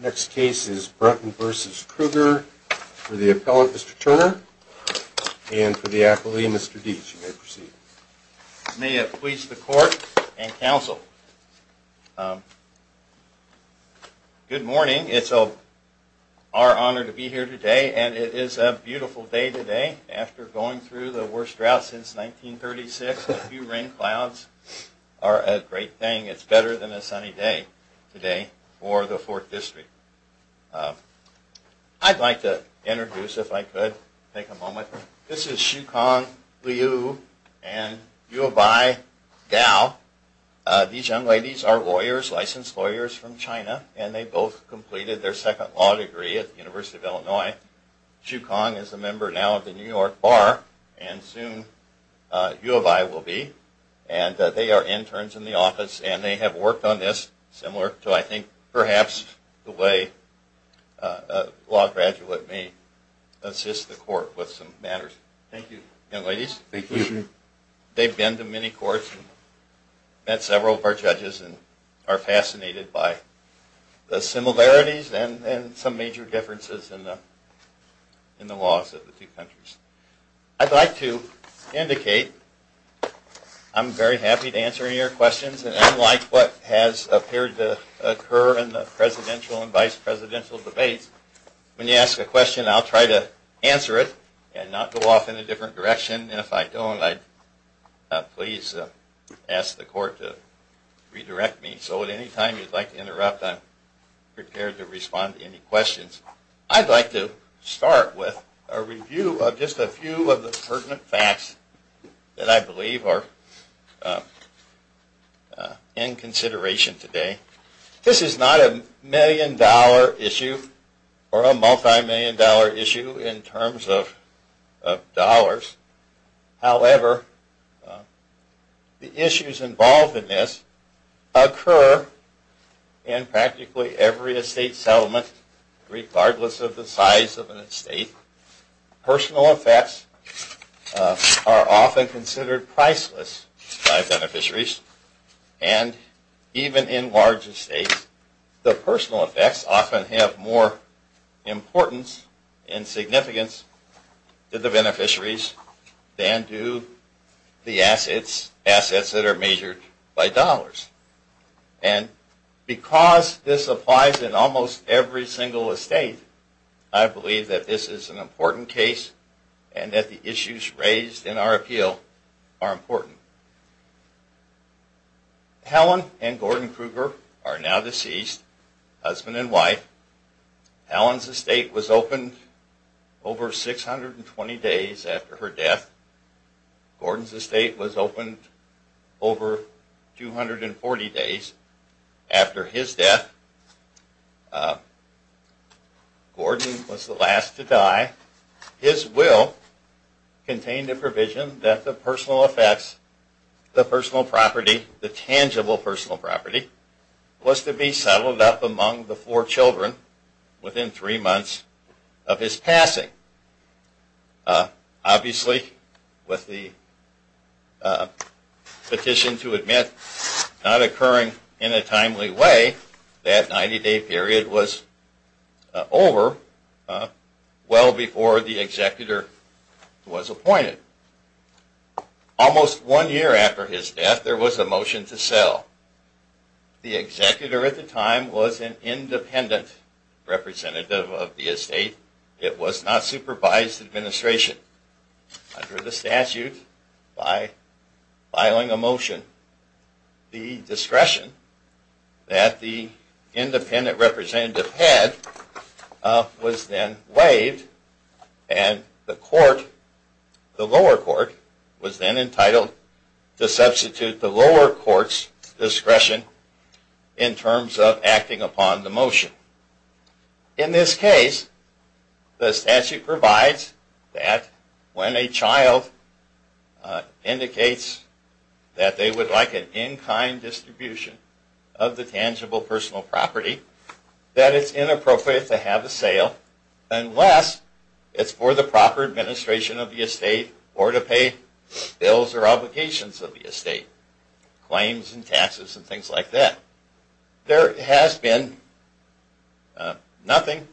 Next case is Brunton v. Kruger for the appellant, Mr. Turner, and for the accolade, Mr. Dietsch. You may proceed. May it please the court and counsel. Good morning. It's our honor to be here today, and it is a beautiful day today. After going through the worst drought since 1936, a few rain clouds are a great thing. It's better than a sunny day today for the 4th District. I'd like to introduce, if I could, take a moment. This is Xu Kong Liu and Yuobi Gao. These young ladies are lawyers, licensed lawyers from China, and they both completed their second law degree at the University of Illinois. Xu Kong is a member now of the New York Bar, and soon Yuobi will be. And they are interns in the office, and they have worked on this similar to, I think, perhaps the way a law graduate may assist the court with some matters. Thank you. They've been to many courts, met several of our judges, and are fascinated by the similarities and some major differences in the laws of the two countries. I'd like to indicate I'm very happy to answer your questions, and unlike what has appeared to occur in the presidential and vice presidential debates, when you ask a question, I'll try to answer it and not go off in a different direction, and if I don't, I'd please ask the court to redirect me. So at any time you'd like to interrupt, I'm prepared to respond to any questions. I'd like to start with a review of just a few of the pertinent facts that I believe are in consideration today. This is not a million-dollar issue or a multi-million-dollar issue in terms of dollars. However, the issues involved in this occur in practically every estate settlement, regardless of the size of an estate. Personal effects are often considered priceless by beneficiaries, and even in large estates, the personal effects often have more importance and significance to the beneficiaries than do the assets that are measured by dollars. And because this applies in almost every single estate, I believe that this is an important case and that the issues raised in our appeal are important. Helen and Gordon Kruger are now deceased, husband and wife. Helen's estate was opened over 620 days after her death. Gordon's estate was opened over 240 days after his death. Gordon was the last to die. His will contained a provision that the personal effects, the tangible personal property, was to be settled up among the four children within three months of his passing. Obviously, with the petition to admit not occurring in a timely way, that 90-day period was over well before the executor was appointed. Almost one year after his death, there was a motion to sell. The executor at the time was an independent representative of the estate. It was not supervised administration under the statute by filing a motion. The discretion that the independent representative had was then waived and the lower court was then entitled to substitute the lower court's discretion in terms of acting upon the motion. In this case, the statute provides that when a child indicates that they would like an in-kind distribution of the tangible personal property, that it's inappropriate to have a sale unless it's for the proper administration of the estate or to pay bills or obligations of the estate. Claims and taxes and things like that. There has been nothing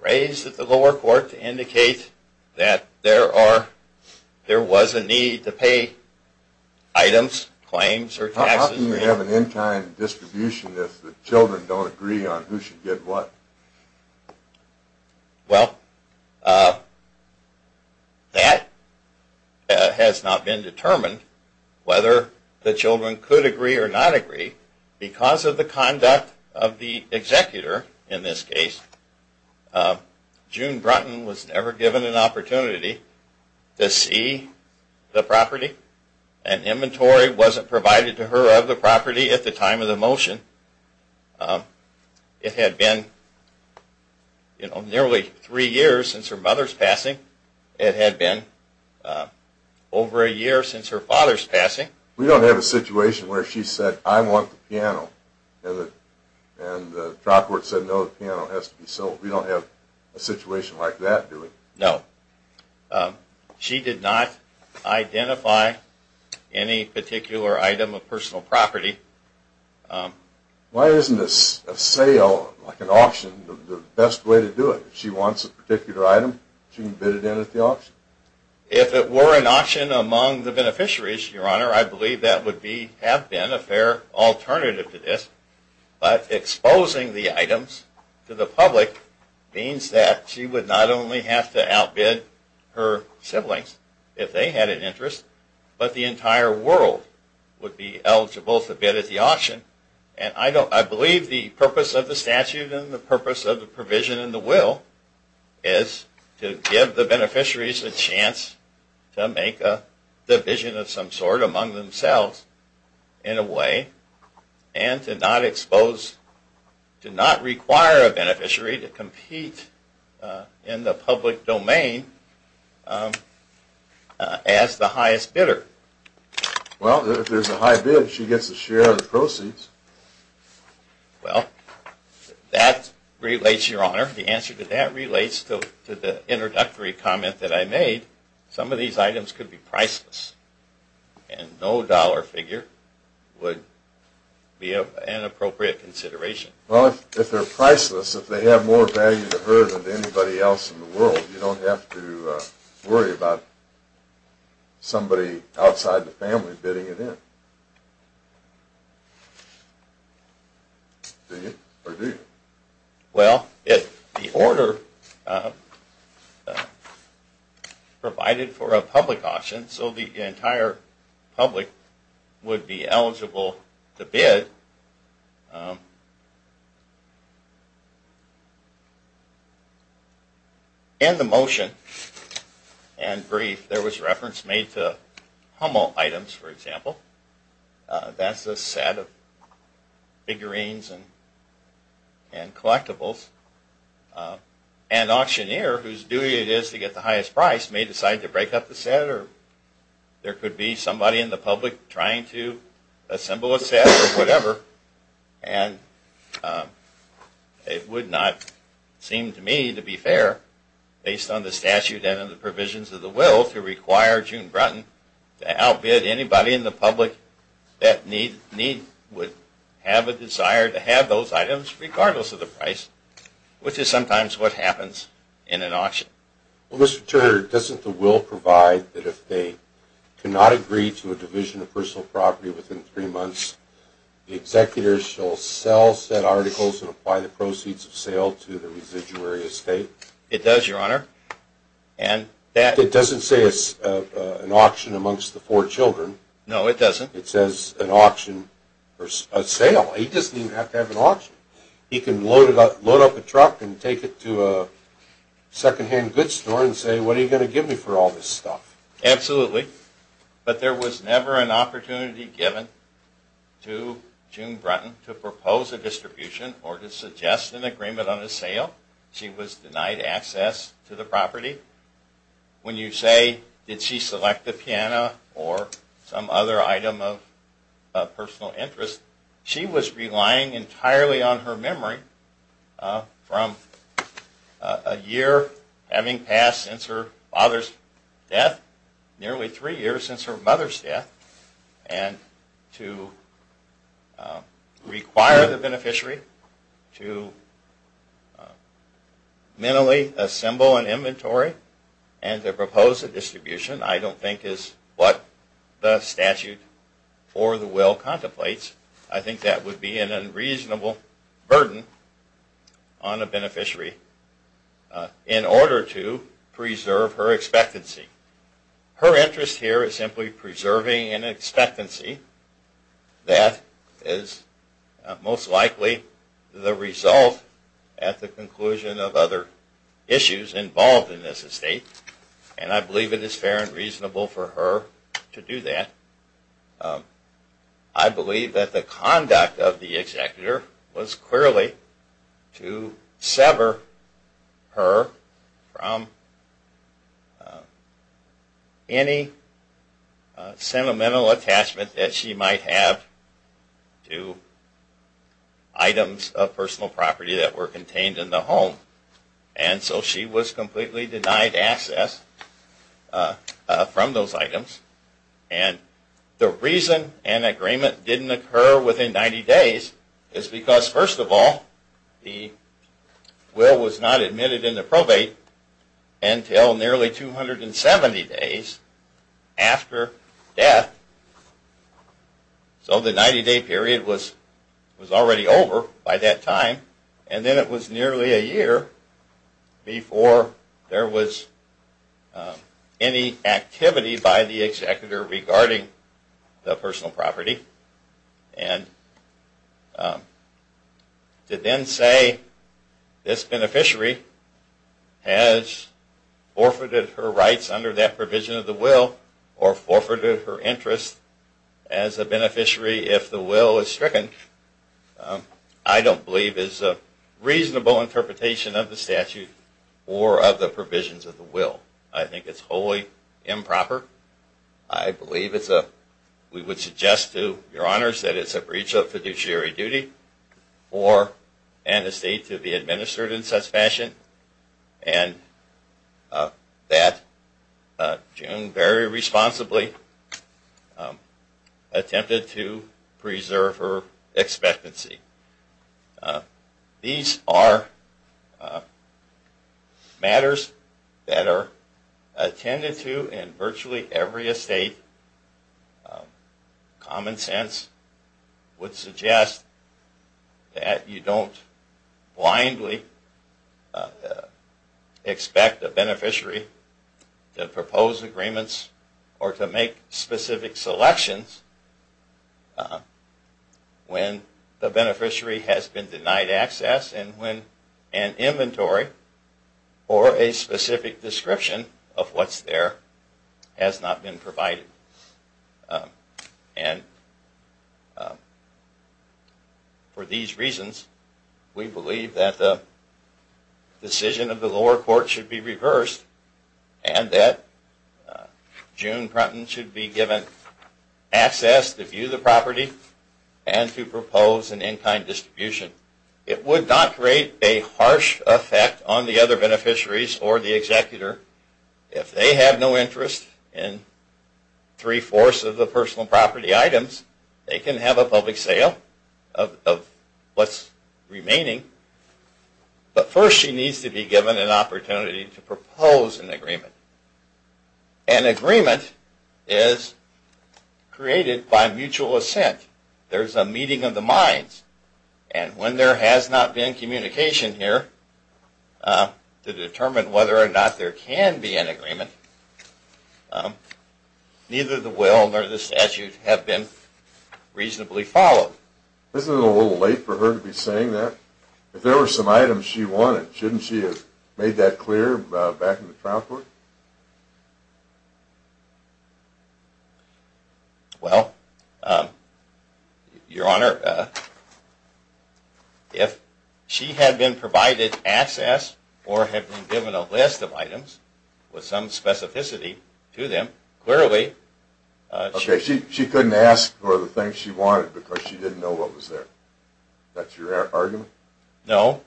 raised at the lower court to indicate that there was a need to pay items, claims or taxes. How can you have an in-kind distribution if the children don't agree on who should get what? Well, that has not been determined whether the children could agree or not agree. Because of the conduct of the executor in this case, June Brunton was never given an opportunity to see the property. An inventory wasn't provided to her of the property at the time of the motion. It had been nearly three years since her mother's passing. It had been over a year since her father's passing. We don't have a situation where she said, I want the piano. And the trial court said, no, the piano has to be sold. We don't have a situation like that. No. She did not identify any particular item of personal property. Why isn't a sale, like an auction, the best way to do it? If she wants a particular item, she can bid it in at the auction? If it were an auction among the beneficiaries, Your Honor, I believe that would have been a fair alternative to this. But exposing the items to the public means that she would not only have to outbid her siblings if they had an interest, but the entire world would be eligible to bid at the auction. I believe the purpose of the statute and the purpose of the provision in the will is to give the beneficiaries a chance to make a division of some sort among themselves in a way, and to not require a beneficiary to compete in the public domain as the highest bidder. Well, if there's a high bid, she gets to share the proceeds. Well, that relates, Your Honor, the answer to that relates to the introductory comment that I made. Some of these items could be priceless, and no dollar figure would be an appropriate consideration. Well, if they're priceless, if they have more value to her than to anybody else in the world, you don't have to worry about somebody outside the family bidding it in. Do you, or do you? Well, if the order provided for a public auction, so the entire public would be eligible to bid, and the motion and brief, there was reference made to Hummel items, for example. That's a set of figurines and collectibles. An auctioneer whose duty it is to get the highest price may decide to break up the set, or there could be somebody in the public trying to assemble a set or whatever, and it would not seem to me to be fair, based on the statute and the provisions of the will, to require June Bratton to outbid anybody in the public domain. The public, that need, would have a desire to have those items, regardless of the price, which is sometimes what happens in an auction. Well, Mr. Turner, doesn't the will provide that if they cannot agree to a division of personal property within three months, the executor shall sell said articles and apply the proceeds of sale to the residuary estate? It does, Your Honor, and that It doesn't say it's an auction amongst the four children. No, it doesn't. It says an auction or a sale. He doesn't even have to have an auction. He can load up a truck and take it to a second-hand goods store and say, what are you going to give me for all this stuff? Absolutely. But there was never an opportunity given to June Bratton to propose a distribution or to suggest an agreement on a sale. She was denied access to the property. When you say, did she select the piano or some other item of personal interest, she was relying entirely on her memory from a year having passed since her father's death, nearly three years since her mother's death, and to require the beneficiary to mentally assemble an inventory and to propose a distribution I don't think is what the statute for the will contemplates. I think that would be an unreasonable burden on a beneficiary in order to preserve her expectancy. Her interest here is simply preserving an expectancy that is most likely the result at the conclusion of other issues involved in this estate, and I believe it is fair and reasonable for her to do that. I believe that the conduct of the executor was clearly to sever her from any sentimental attachment that she might have to items of personal property that were contained in the home. And so she was completely denied access from those items. And the reason an agreement didn't occur within 90 days is because, first of all, the will was not admitted into probate until nearly 270 days after death. So the 90-day period was already over by that time, and then it was nearly a year before there was any activity by the executor regarding the personal property, and to then say this beneficiary has forfeited her rights under that provision of the will, or forfeited her interest as a beneficiary if the will is stricken, I don't believe is a reasonable interpretation of the statute or of the provisions of the will. I think it's wholly improper. I believe we would suggest to your honors that it's a breach of fiduciary duty for an estate to be administered in such fashion, and that June very responsibly attempted to preserve her expectancy. These are matters that are attended to in virtually every estate. Common sense would suggest that you don't blindly expect a beneficiary to propose agreements or to make specific selections when the beneficiary has no intention of doing so. When the beneficiary has been denied access and when an inventory or a specific description of what's there has not been provided. And for these reasons, we believe that the decision of the lower court should be reversed and that June Prunton should be given access to view the property and to propose an in-kind distribution. It would not create a harsh effect on the other beneficiaries or the executor if they have no interest in three-fourths of the personal property items. They can have a public sale of what's remaining, but first she needs to be given an opportunity to propose an agreement. An agreement is created by mutual assent. There's a meeting of the minds. And when there has not been communication here to determine whether or not there can be an agreement, neither the will nor the statute have been reasonably followed. Isn't it a little late for her to be saying that? If there were some items she wanted, shouldn't she have made that clear back in the trial court? Well, Your Honor, if she had been provided access or had been given a list of items with some specificity to them, clearly… Okay, she couldn't ask for the things she wanted because she didn't know what was there. That's your argument? No.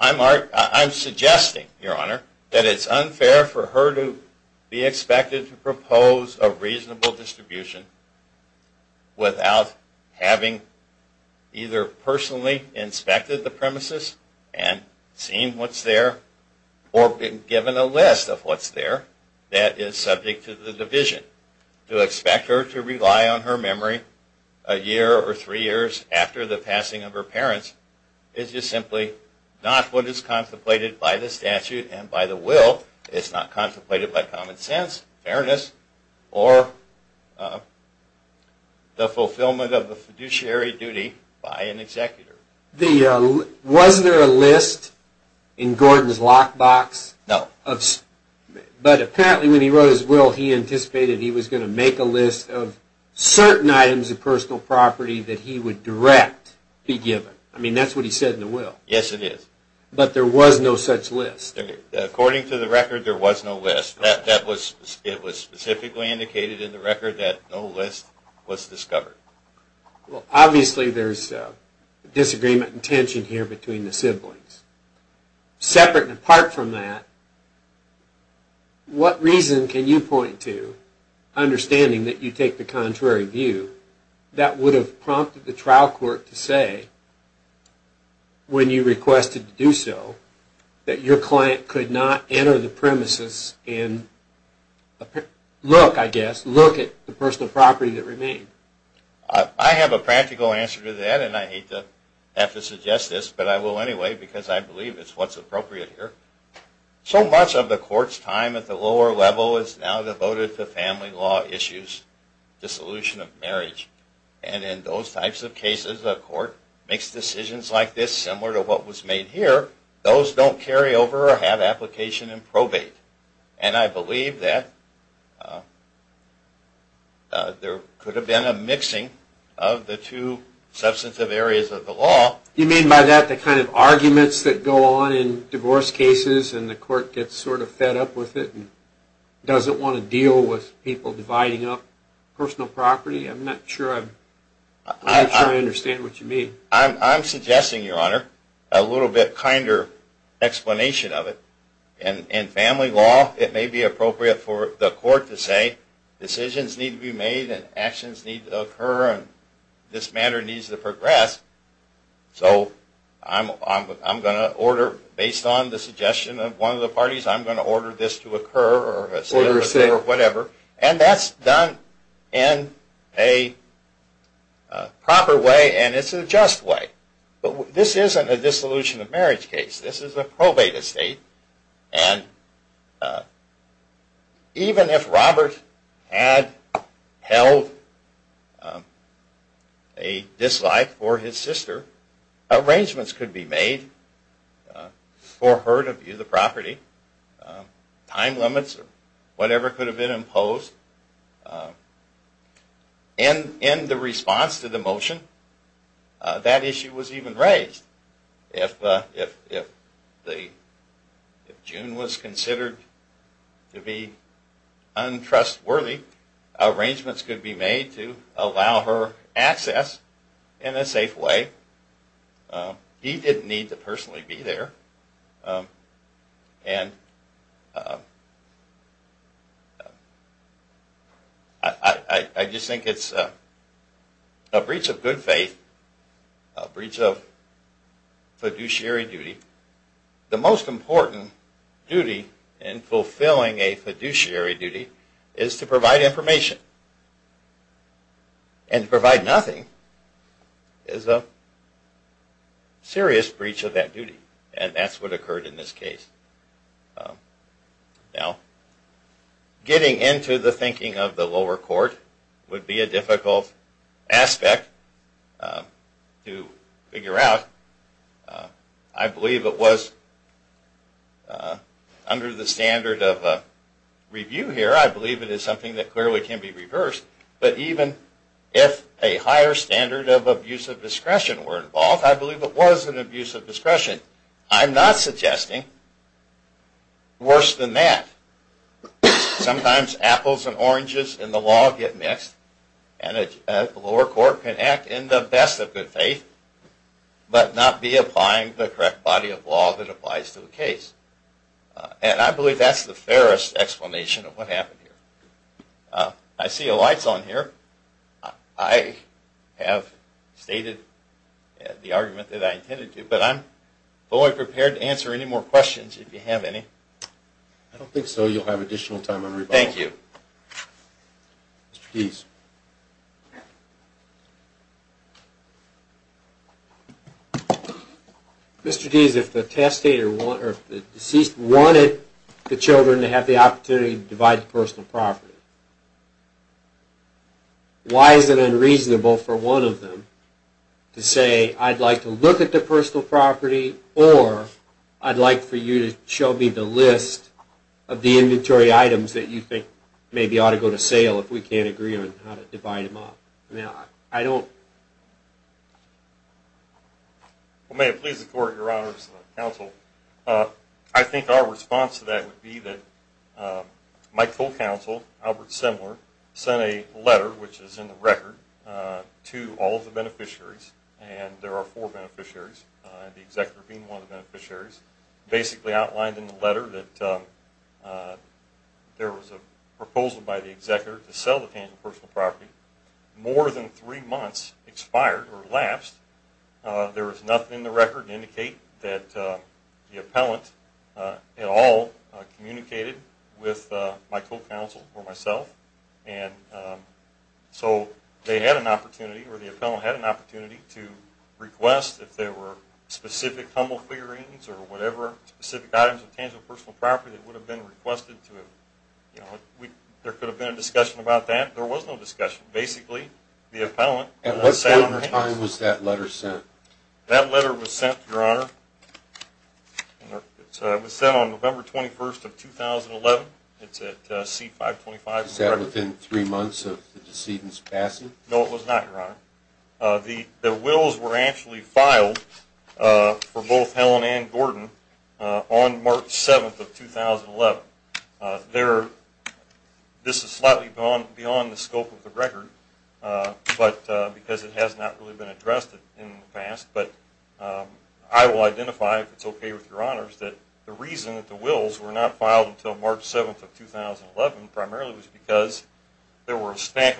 I'm suggesting, Your Honor, that it's unfair for her to be expected to propose a reasonable distribution without having either personally inspected the premises and seen what's there or been given a list of what's there that is subject to the division. To expect her to rely on her memory a year or three years after the passing of her parents is just simply not what is contemplated by the statute and by the will. It's not contemplated by common sense, fairness, or the fulfillment of the fiduciary duty by an executor. Was there a list in Gordon's lockbox? No. But apparently when he wrote his will, he anticipated he was going to make a list of certain items of personal property that he would direct be given. I mean, that's what he said in the will. Yes, it is. But there was no such list. According to the record, there was no list. It was specifically indicated in the record that no list was discovered. Well, obviously there's disagreement and tension here between the siblings. Separate and apart from that, what reason can you point to, understanding that you take the contrary view, that would have prompted the trial court to say, when you requested to do so, that your client could not enter the premises and look, I guess, look at the personal property that remained? I have a practical answer to that, and I hate to have to suggest this, but I will anyway because I believe it's what's appropriate here. So much of the court's time at the lower level is now devoted to family law issues, dissolution of marriage. And in those types of cases, a court makes decisions like this, similar to what was made here. Those don't carry over or have application and probate. And I believe that there could have been a mixing of the two substantive areas of the law. You mean by that the kind of arguments that go on in divorce cases and the court gets sort of fed up with it and doesn't want to deal with people dividing up personal property? I'm not sure I understand what you mean. I'm suggesting, Your Honor, a little bit kinder explanation of it. In family law, it may be appropriate for the court to say decisions need to be made and actions need to occur and this matter needs to progress. So I'm going to order, based on the suggestion of one of the parties, I'm going to order this to occur or whatever. And that's done in a proper way and it's a just way. But this isn't a dissolution of marriage case. This is a probate estate and even if Robert had held a dislike for his sister, arrangements could be made for her to view the property. Time limits or whatever could have been imposed. In the response to the motion, that issue was even raised. If June was considered to be untrustworthy, arrangements could be made to allow her access in a safe way. He didn't need to personally be there. And I just think it's a breach of good faith, a breach of fiduciary duty. The most important duty in fulfilling a fiduciary duty is to provide information. And to provide nothing is a serious breach of that duty and that's what occurred in this case. Now, getting into the thinking of the lower court would be a difficult aspect to figure out. I believe it was under the standard of review here. I believe it is something that clearly can be reversed. But even if a higher standard of abuse of discretion were involved, I believe it was an abuse of discretion. I'm not suggesting worse than that. Sometimes apples and oranges in the law get mixed and the lower court can act in the best of good faith, but not be applying the correct body of law that applies to the case. And I believe that's the fairest explanation of what happened here. I see a light on here. I have stated the argument that I intended to, but I'm fully prepared to answer any more questions if you have any. I don't think so. You'll have additional time on rebuttal. Thank you. Mr. Deese. Mr. Deese, if the deceased wanted the children to have the opportunity to divide the personal property, why is it unreasonable for one of them to say, I'd like to look at the personal property or I'd like for you to show me the list of the inventory items that you think maybe ought to go to sale if we can't agree on how to divide them up? Well, may it please the court, your honors, counsel, I think our response to that would be that my co-counsel, Albert Semler, sent a letter, which is in the record, to all of the beneficiaries, and there are four beneficiaries, the executor being one of the beneficiaries, basically outlined in the letter that there was a proposal by the executor to sell the tangible personal property. More than three months expired or elapsed. There was nothing in the record to indicate that the appellant at all communicated with my co-counsel or myself, and so they had an opportunity or the appellant had an opportunity to request if there were specific humble clearings or whatever specific items of tangible personal property that would have been requested to him. There could have been a discussion about that. There was no discussion. Basically, the appellant sat on her hands. At what point in time was that letter sent? That letter was sent, your honor. It was sent on November 21st of 2011. It's at C-525. Was that within three months of the decedent's passing? No, it was not, your honor. The wills were actually filed for both Helen and Gordon on March 7th of 2011. This is slightly beyond the scope of the record because it has not really been addressed in the past, but I will identify, if it's okay with your honors, that the reason that the wills were not filed until March 7th of 2011 primarily was because there were a stack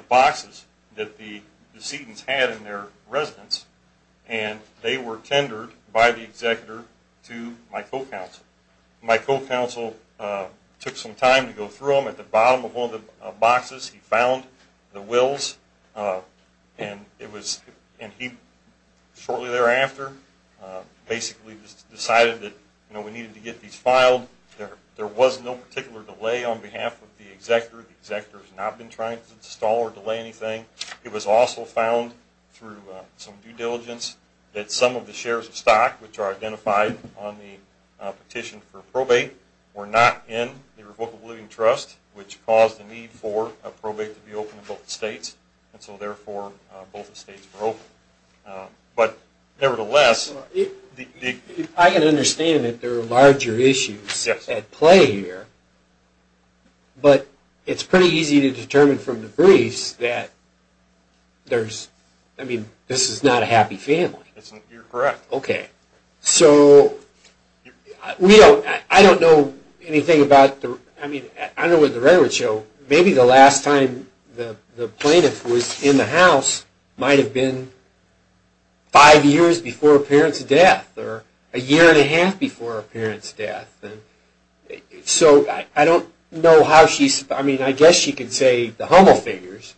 of boxes that the decedents had in their residence, and they were tendered by the executor to my co-counsel. My co-counsel took some time to go through them. At the bottom of one of the boxes he found the wills, and shortly thereafter basically decided that we needed to get these filed. There was no particular delay on behalf of the executor. The executor has not been trying to stall or delay anything. It was also found through some due diligence that some of the shares of stock, which are identified on the petition for probate, were not in the Revocable Living Trust, which caused the need for a probate to be open in both the states, and so therefore both the states were open. But nevertheless... I can understand that there are larger issues at play here, but it's pretty easy to determine from the briefs that this is not a happy family. You're correct. Okay. So, I don't know anything about the... I mean, I know what the records show. Maybe the last time the plaintiff was in the house might have been five years before a parent's death, or a year and a half before a parent's death. So, I don't know how she... I mean, I guess she could say the Hummel figures,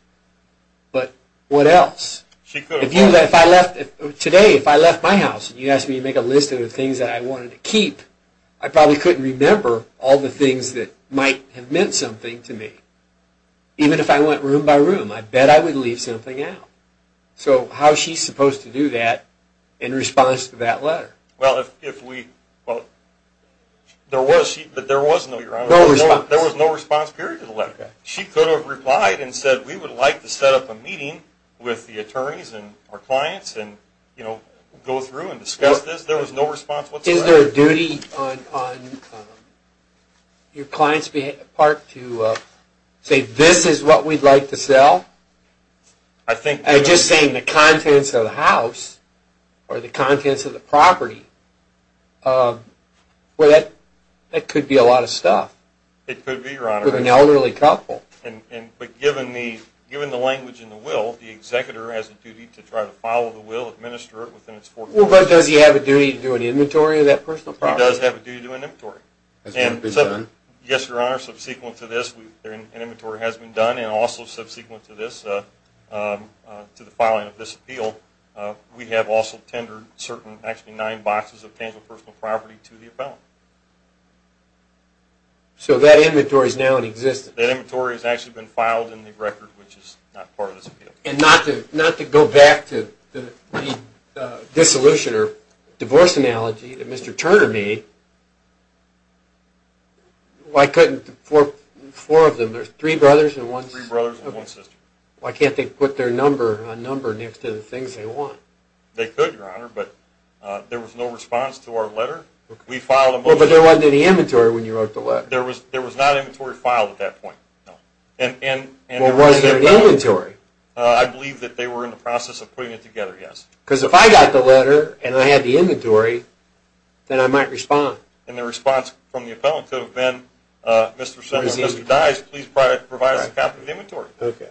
but what else? She could. If I left... Today, if I left my house and you asked me to make a list of the things that I wanted to keep, I probably couldn't remember all the things that might have meant something to me. Even if I went room by room, I bet I would leave something out. So, how is she supposed to do that in response to that letter? Well, if we... There was no response period to the letter. She could have replied and said, we would like to set up a meeting with the attorneys and our clients and go through and discuss this. There was no response whatsoever. Is there a duty on your client's part to say, this is what we'd like to sell? I think... Just saying the contents of the house or the contents of the property, well, that could be a lot of stuff. It could be, Your Honor. With an elderly couple. But given the language in the will, the executor has a duty to try to follow the will, administer it within its four corners. Well, but does he have a duty to do an inventory of that personal property? He does have a duty to do an inventory. Has it been done? Yes, Your Honor. Subsequent to this, an inventory has been done. And also subsequent to this, to the filing of this appeal, we have also tendered nine boxes of tangible personal property to the appellant. So that inventory is now in existence? That inventory has actually been filed in the record, which is not part of this appeal. And not to go back to the dissolution or divorce analogy that Mr. Turner made, why couldn't four of them, three brothers and one sister, why can't they put their number next to the things they want? They could, Your Honor, but there was no response to our letter. We filed a motion... Well, but there wasn't any inventory when you wrote the letter. There was not inventory filed at that point, no. Well, was there inventory? I believe that they were in the process of putting it together, yes. Because if I got the letter and I had the inventory, then I might respond. And the response from the appellant could have been, Mr. Semler, Mr. Dyes, please provide us a copy of the inventory. Okay.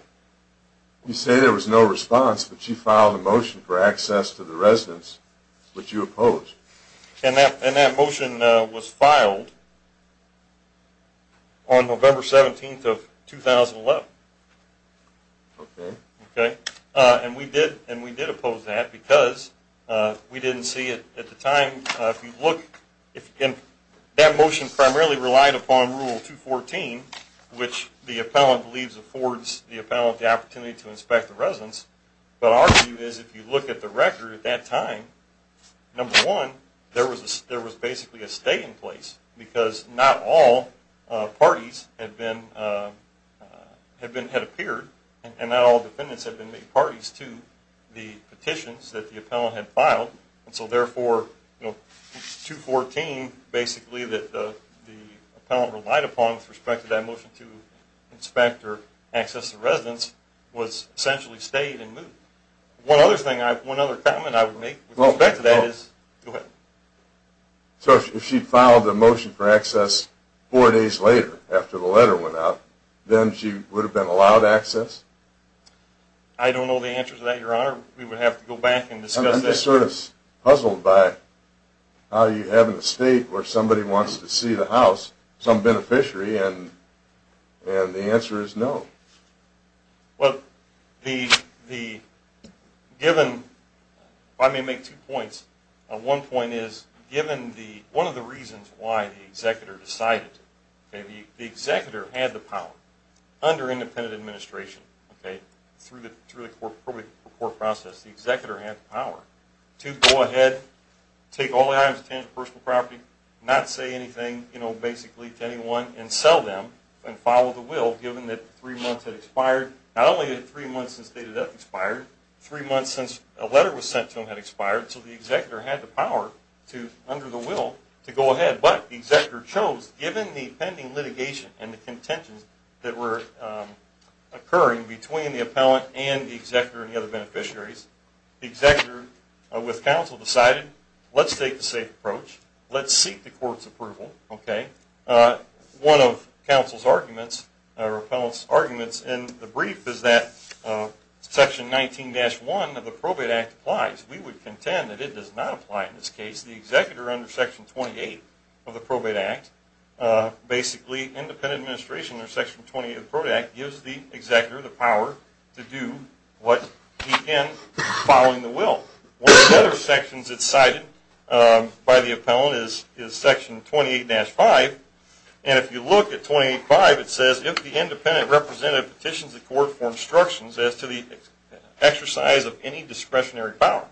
You say there was no response, but you filed a motion for access to the residence, which you opposed. And that motion was filed on November 17th of 2011. Okay. Okay. And we did oppose that because we didn't see it at the time. That motion primarily relied upon Rule 214, which the appellant believes affords the appellant the opportunity to inspect the residence. But our view is, if you look at the record at that time, number one, there was basically a stay in place because not all parties had appeared and not all defendants had been made parties to the petitions that the appellant had filed. And so, therefore, 214, basically, that the appellant relied upon with respect to that motion to inspect or access the residence was essentially stayed and moved. One other thing, one other comment I would make with respect to that is... Go ahead. So if she filed a motion for access four days later, after the letter went out, then she would have been allowed access? I don't know the answer to that, Your Honor. We would have to go back and discuss that. I'm just sort of puzzled by how you have an estate where somebody wants to see the house, some beneficiary, and the answer is no. Well, the given... If I may make two points. One point is, given one of the reasons why the executor decided, the executor had the power under independent administration, through the court process, the executor had the power to go ahead, take all the items of tangible personal property, not say anything, you know, basically, to anyone, and sell them and follow the will, given that three months had expired. Not only had three months since date of death expired, three months since a letter was sent to him had expired, so the executor had the power to, under the will, to go ahead. But the executor chose, given the pending litigation and the contentions that were occurring between the appellant and the executor and the other beneficiaries, the executor, with counsel, decided, let's take the safe approach. Let's seek the court's approval, okay? One of counsel's arguments, or appellant's arguments in the brief, is that Section 19-1 of the Probate Act applies. We would contend that it does not apply in this case. The executor, under Section 28 of the Probate Act, basically independent administration under Section 28 of the Probate Act, gives the executor the power to do what he can following the will. One of the other sections that's cited by the appellant is Section 28-5. And if you look at 28-5, it says, if the independent representative petitions the court for instructions as to the exercise of any discretionary power.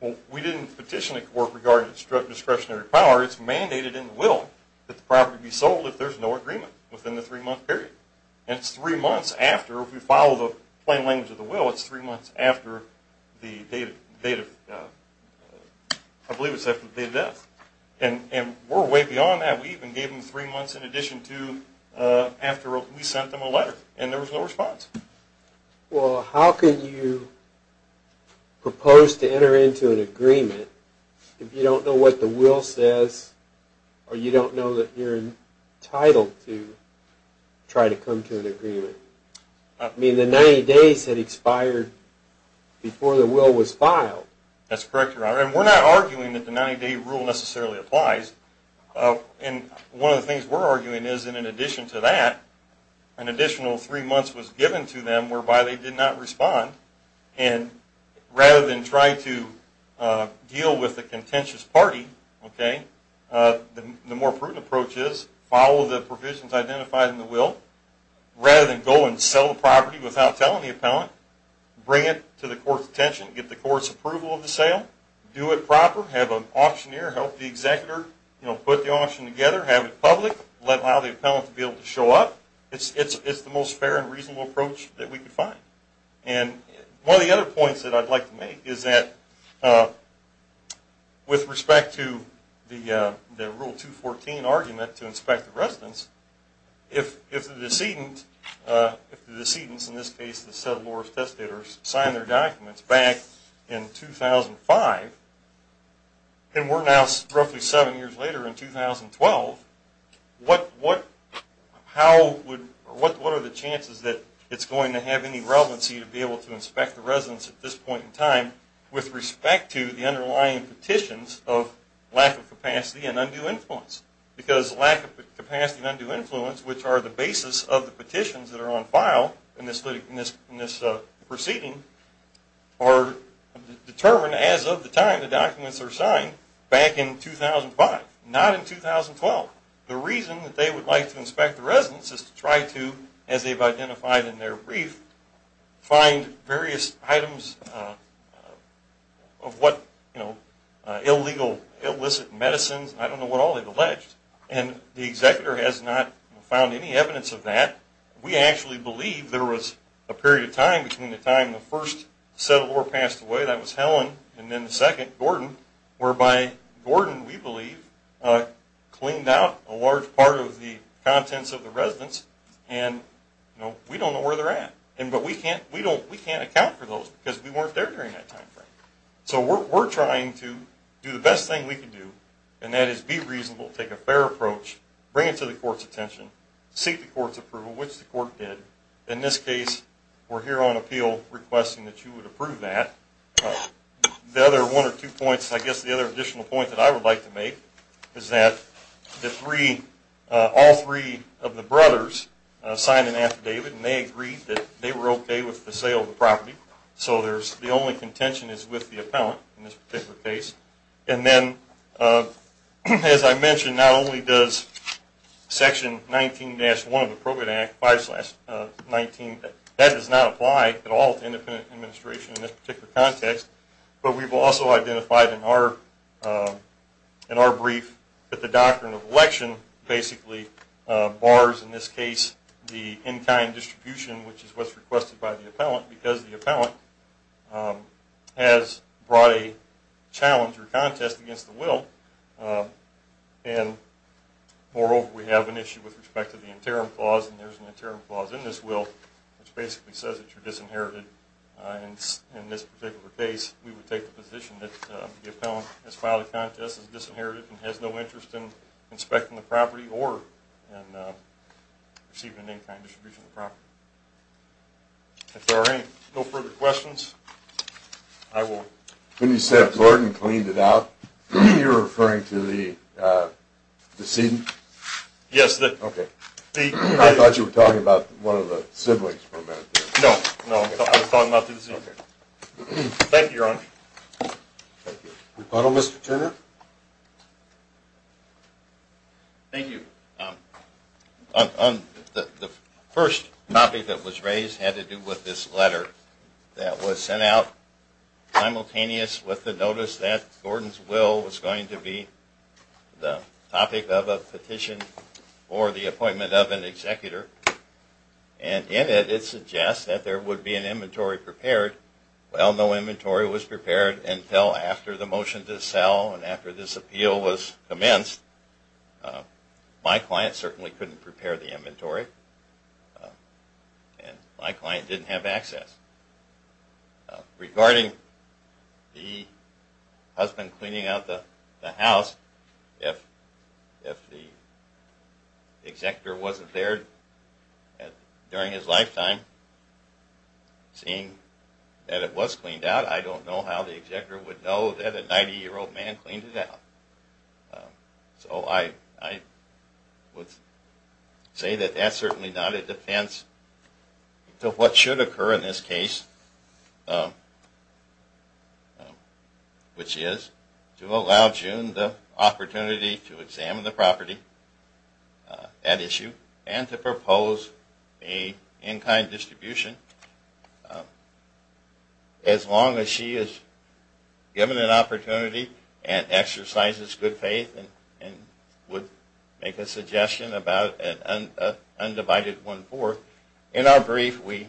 Well, we didn't petition the court regarding discretionary power. It's mandated in the will that the property be sold if there's no agreement within the three-month period. And it's three months after, if we follow the plain language of the will, it's three months after the date of death. And we're way beyond that. We even gave them three months in addition to after we sent them a letter, and there was no response. Well, how can you propose to enter into an agreement if you don't know what the will says or you don't know that you're entitled to try to come to an agreement? I mean, the 90 days had expired before the will was filed. That's correct, Your Honor. And we're not arguing that the 90-day rule necessarily applies. And one of the things we're arguing is that in addition to that, an additional three months was given to them whereby they did not respond. And rather than try to deal with the contentious party, the more prudent approach is follow the provisions identified in the will. Rather than go and sell the property without telling the appellant, bring it to the court's attention, get the court's approval of the sale, do it proper, have an auctioneer help the executor, put the auction together, have it public, allow the appellant to be able to show up. It's the most fair and reasonable approach that we could find. And one of the other points that I'd like to make is that with respect to the Rule 214 argument to inspect the residence, if the decedent, in this case the settlor's testator, signed their documents back in 2005, and we're now roughly seven years later in 2012, what are the chances that it's going to have any relevancy to be able to inspect the residence at this point in time with respect to the underlying petitions of lack of capacity and undue influence? Because lack of capacity and undue influence, which are the basis of the petitions that are on file in this proceeding, are determined as of the time the documents are signed back in 2005, not in 2012. The reason that they would like to inspect the residence is to try to, as they've identified in their brief, find various items of what illegal, illicit medicines, I don't know what all they've alleged, and the executor has not found any evidence of that. We actually believe there was a period of time between the time the first settlor passed away, that was Helen, and then the second, Gordon, whereby Gordon, we believe, cleaned out a large part of the contents of the residence, and we don't know where they're at. But we can't account for those because we weren't there during that time frame. So we're trying to do the best thing we can do, and that is be reasonable, take a fair approach, bring it to the court's attention, seek the court's approval, which the court did. In this case, we're here on appeal requesting that you would approve that. The other one or two points, I guess the other additional point that I would like to make, is that all three of the brothers signed an affidavit, and they agreed that they were okay with the sale of the property. So the only contention is with the appellant in this particular case. And then, as I mentioned, not only does Section 19-1 of the Appropriate Act, 5-19, that does not apply at all to independent administration in this particular context, but we've also identified in our brief that the doctrine of election basically bars, in this case, the in-kind distribution, which is what's requested by the appellant, because the appellant has brought a challenge or contest against the will. And moreover, we have an issue with respect to the interim clause, and there's an interim clause in this will, which basically says that you're disinherited. In this particular case, we would take the position that the appellant has filed a contest, and received an in-kind distribution of the property. If there are no further questions, I will. When you said Gordon cleaned it out, you're referring to the decedent? Yes. Okay. I thought you were talking about one of the siblings from that. No, no. I was talking about the decedent. Okay. Thank you, Your Honor. Thank you. Rebuttal, Mr. Turner? Thank you. The first topic that was raised had to do with this letter that was sent out simultaneous with the notice that Gordon's will was going to be the topic of a petition for the appointment of an executor. And in it, it suggests that there would be an inventory prepared. Well, no inventory was prepared until after the motion to sell and after this appeal was commenced. My client certainly couldn't prepare the inventory, and my client didn't have access. Regarding the husband cleaning out the house, if the executor wasn't there during his lifetime, seeing that it was cleaned out, I don't know how the executor would know that a 90-year-old man cleaned it out. So I would say that that's certainly not a defense to what should occur in this case, which is to allow June the opportunity to examine the property at issue and to propose a in-kind distribution. As long as she is given an opportunity and exercises good faith and would make a suggestion about an undivided one-fourth. In our brief, we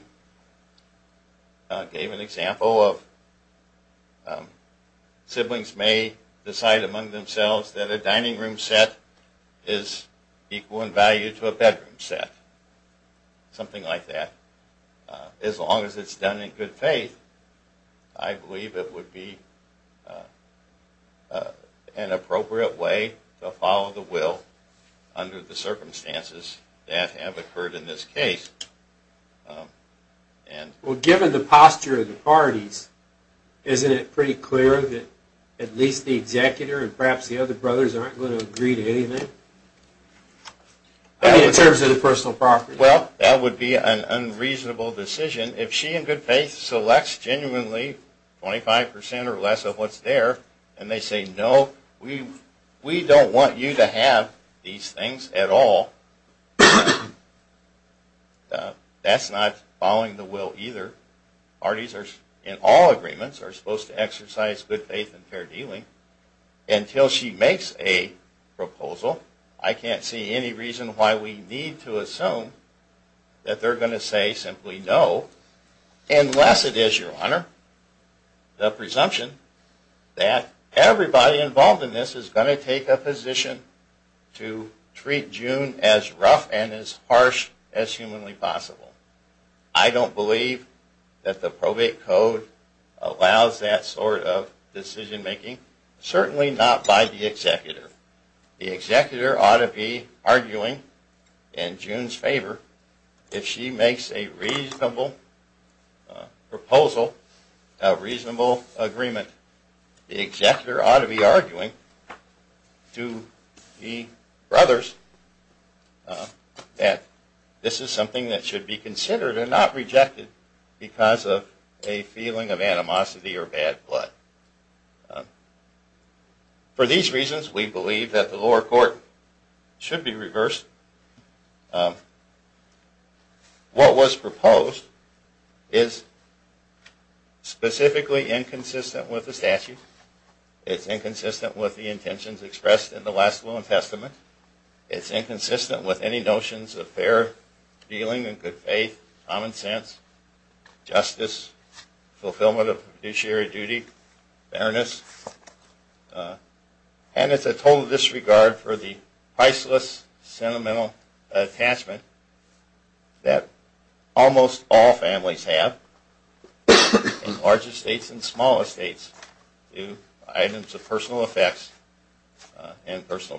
gave an example of siblings may decide among themselves that a dining room set is equal in value to a bedroom set, something like that. As long as it's done in good faith, I believe it would be an appropriate way to follow the will under the circumstances that have occurred in this case. Well, given the posture of the parties, isn't it pretty clear that at least the executor and perhaps the other brothers aren't going to agree to anything? I mean, in terms of the personal property. Well, that would be an unreasonable decision. If she in good faith selects genuinely 25% or less of what's there, and they say, no, we don't want you to have these things at all, that's not following the will either. Parties in all agreements are supposed to exercise good faith and fair dealing. Until she makes a proposal, I can't see any reason why we need to assume that they're going to say simply no unless it is, Your Honor, the presumption that everybody involved in this is going to take a position to treat June as rough and as harsh as humanly possible. I don't believe that the probate code allows that sort of decision making, certainly not by the executor. The executor ought to be arguing in June's favor if she makes a reasonable proposal, a reasonable agreement. The executor ought to be arguing to the brothers that this is something that should be considered and not rejected because of a feeling of animosity or bad blood. For these reasons, we believe that the lower court should be reversed. What was proposed is specifically inconsistent with the statute. It's inconsistent with the intentions expressed in the last will and testament. It's inconsistent with any notions of fair dealing and good faith, common sense, justice, fulfillment of fiduciary duty, fairness. And it's a total disregard for the priceless sentimental attachment that almost all families have in larger states and smaller states to items of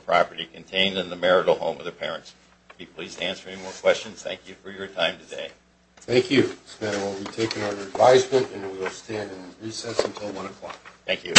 property contained in the marital home of the parents. I'd be pleased to answer any more questions. Thank you for your time today. Thank you. We'll be taking our advisement and we'll stand in recess until 1 o'clock. Thank you.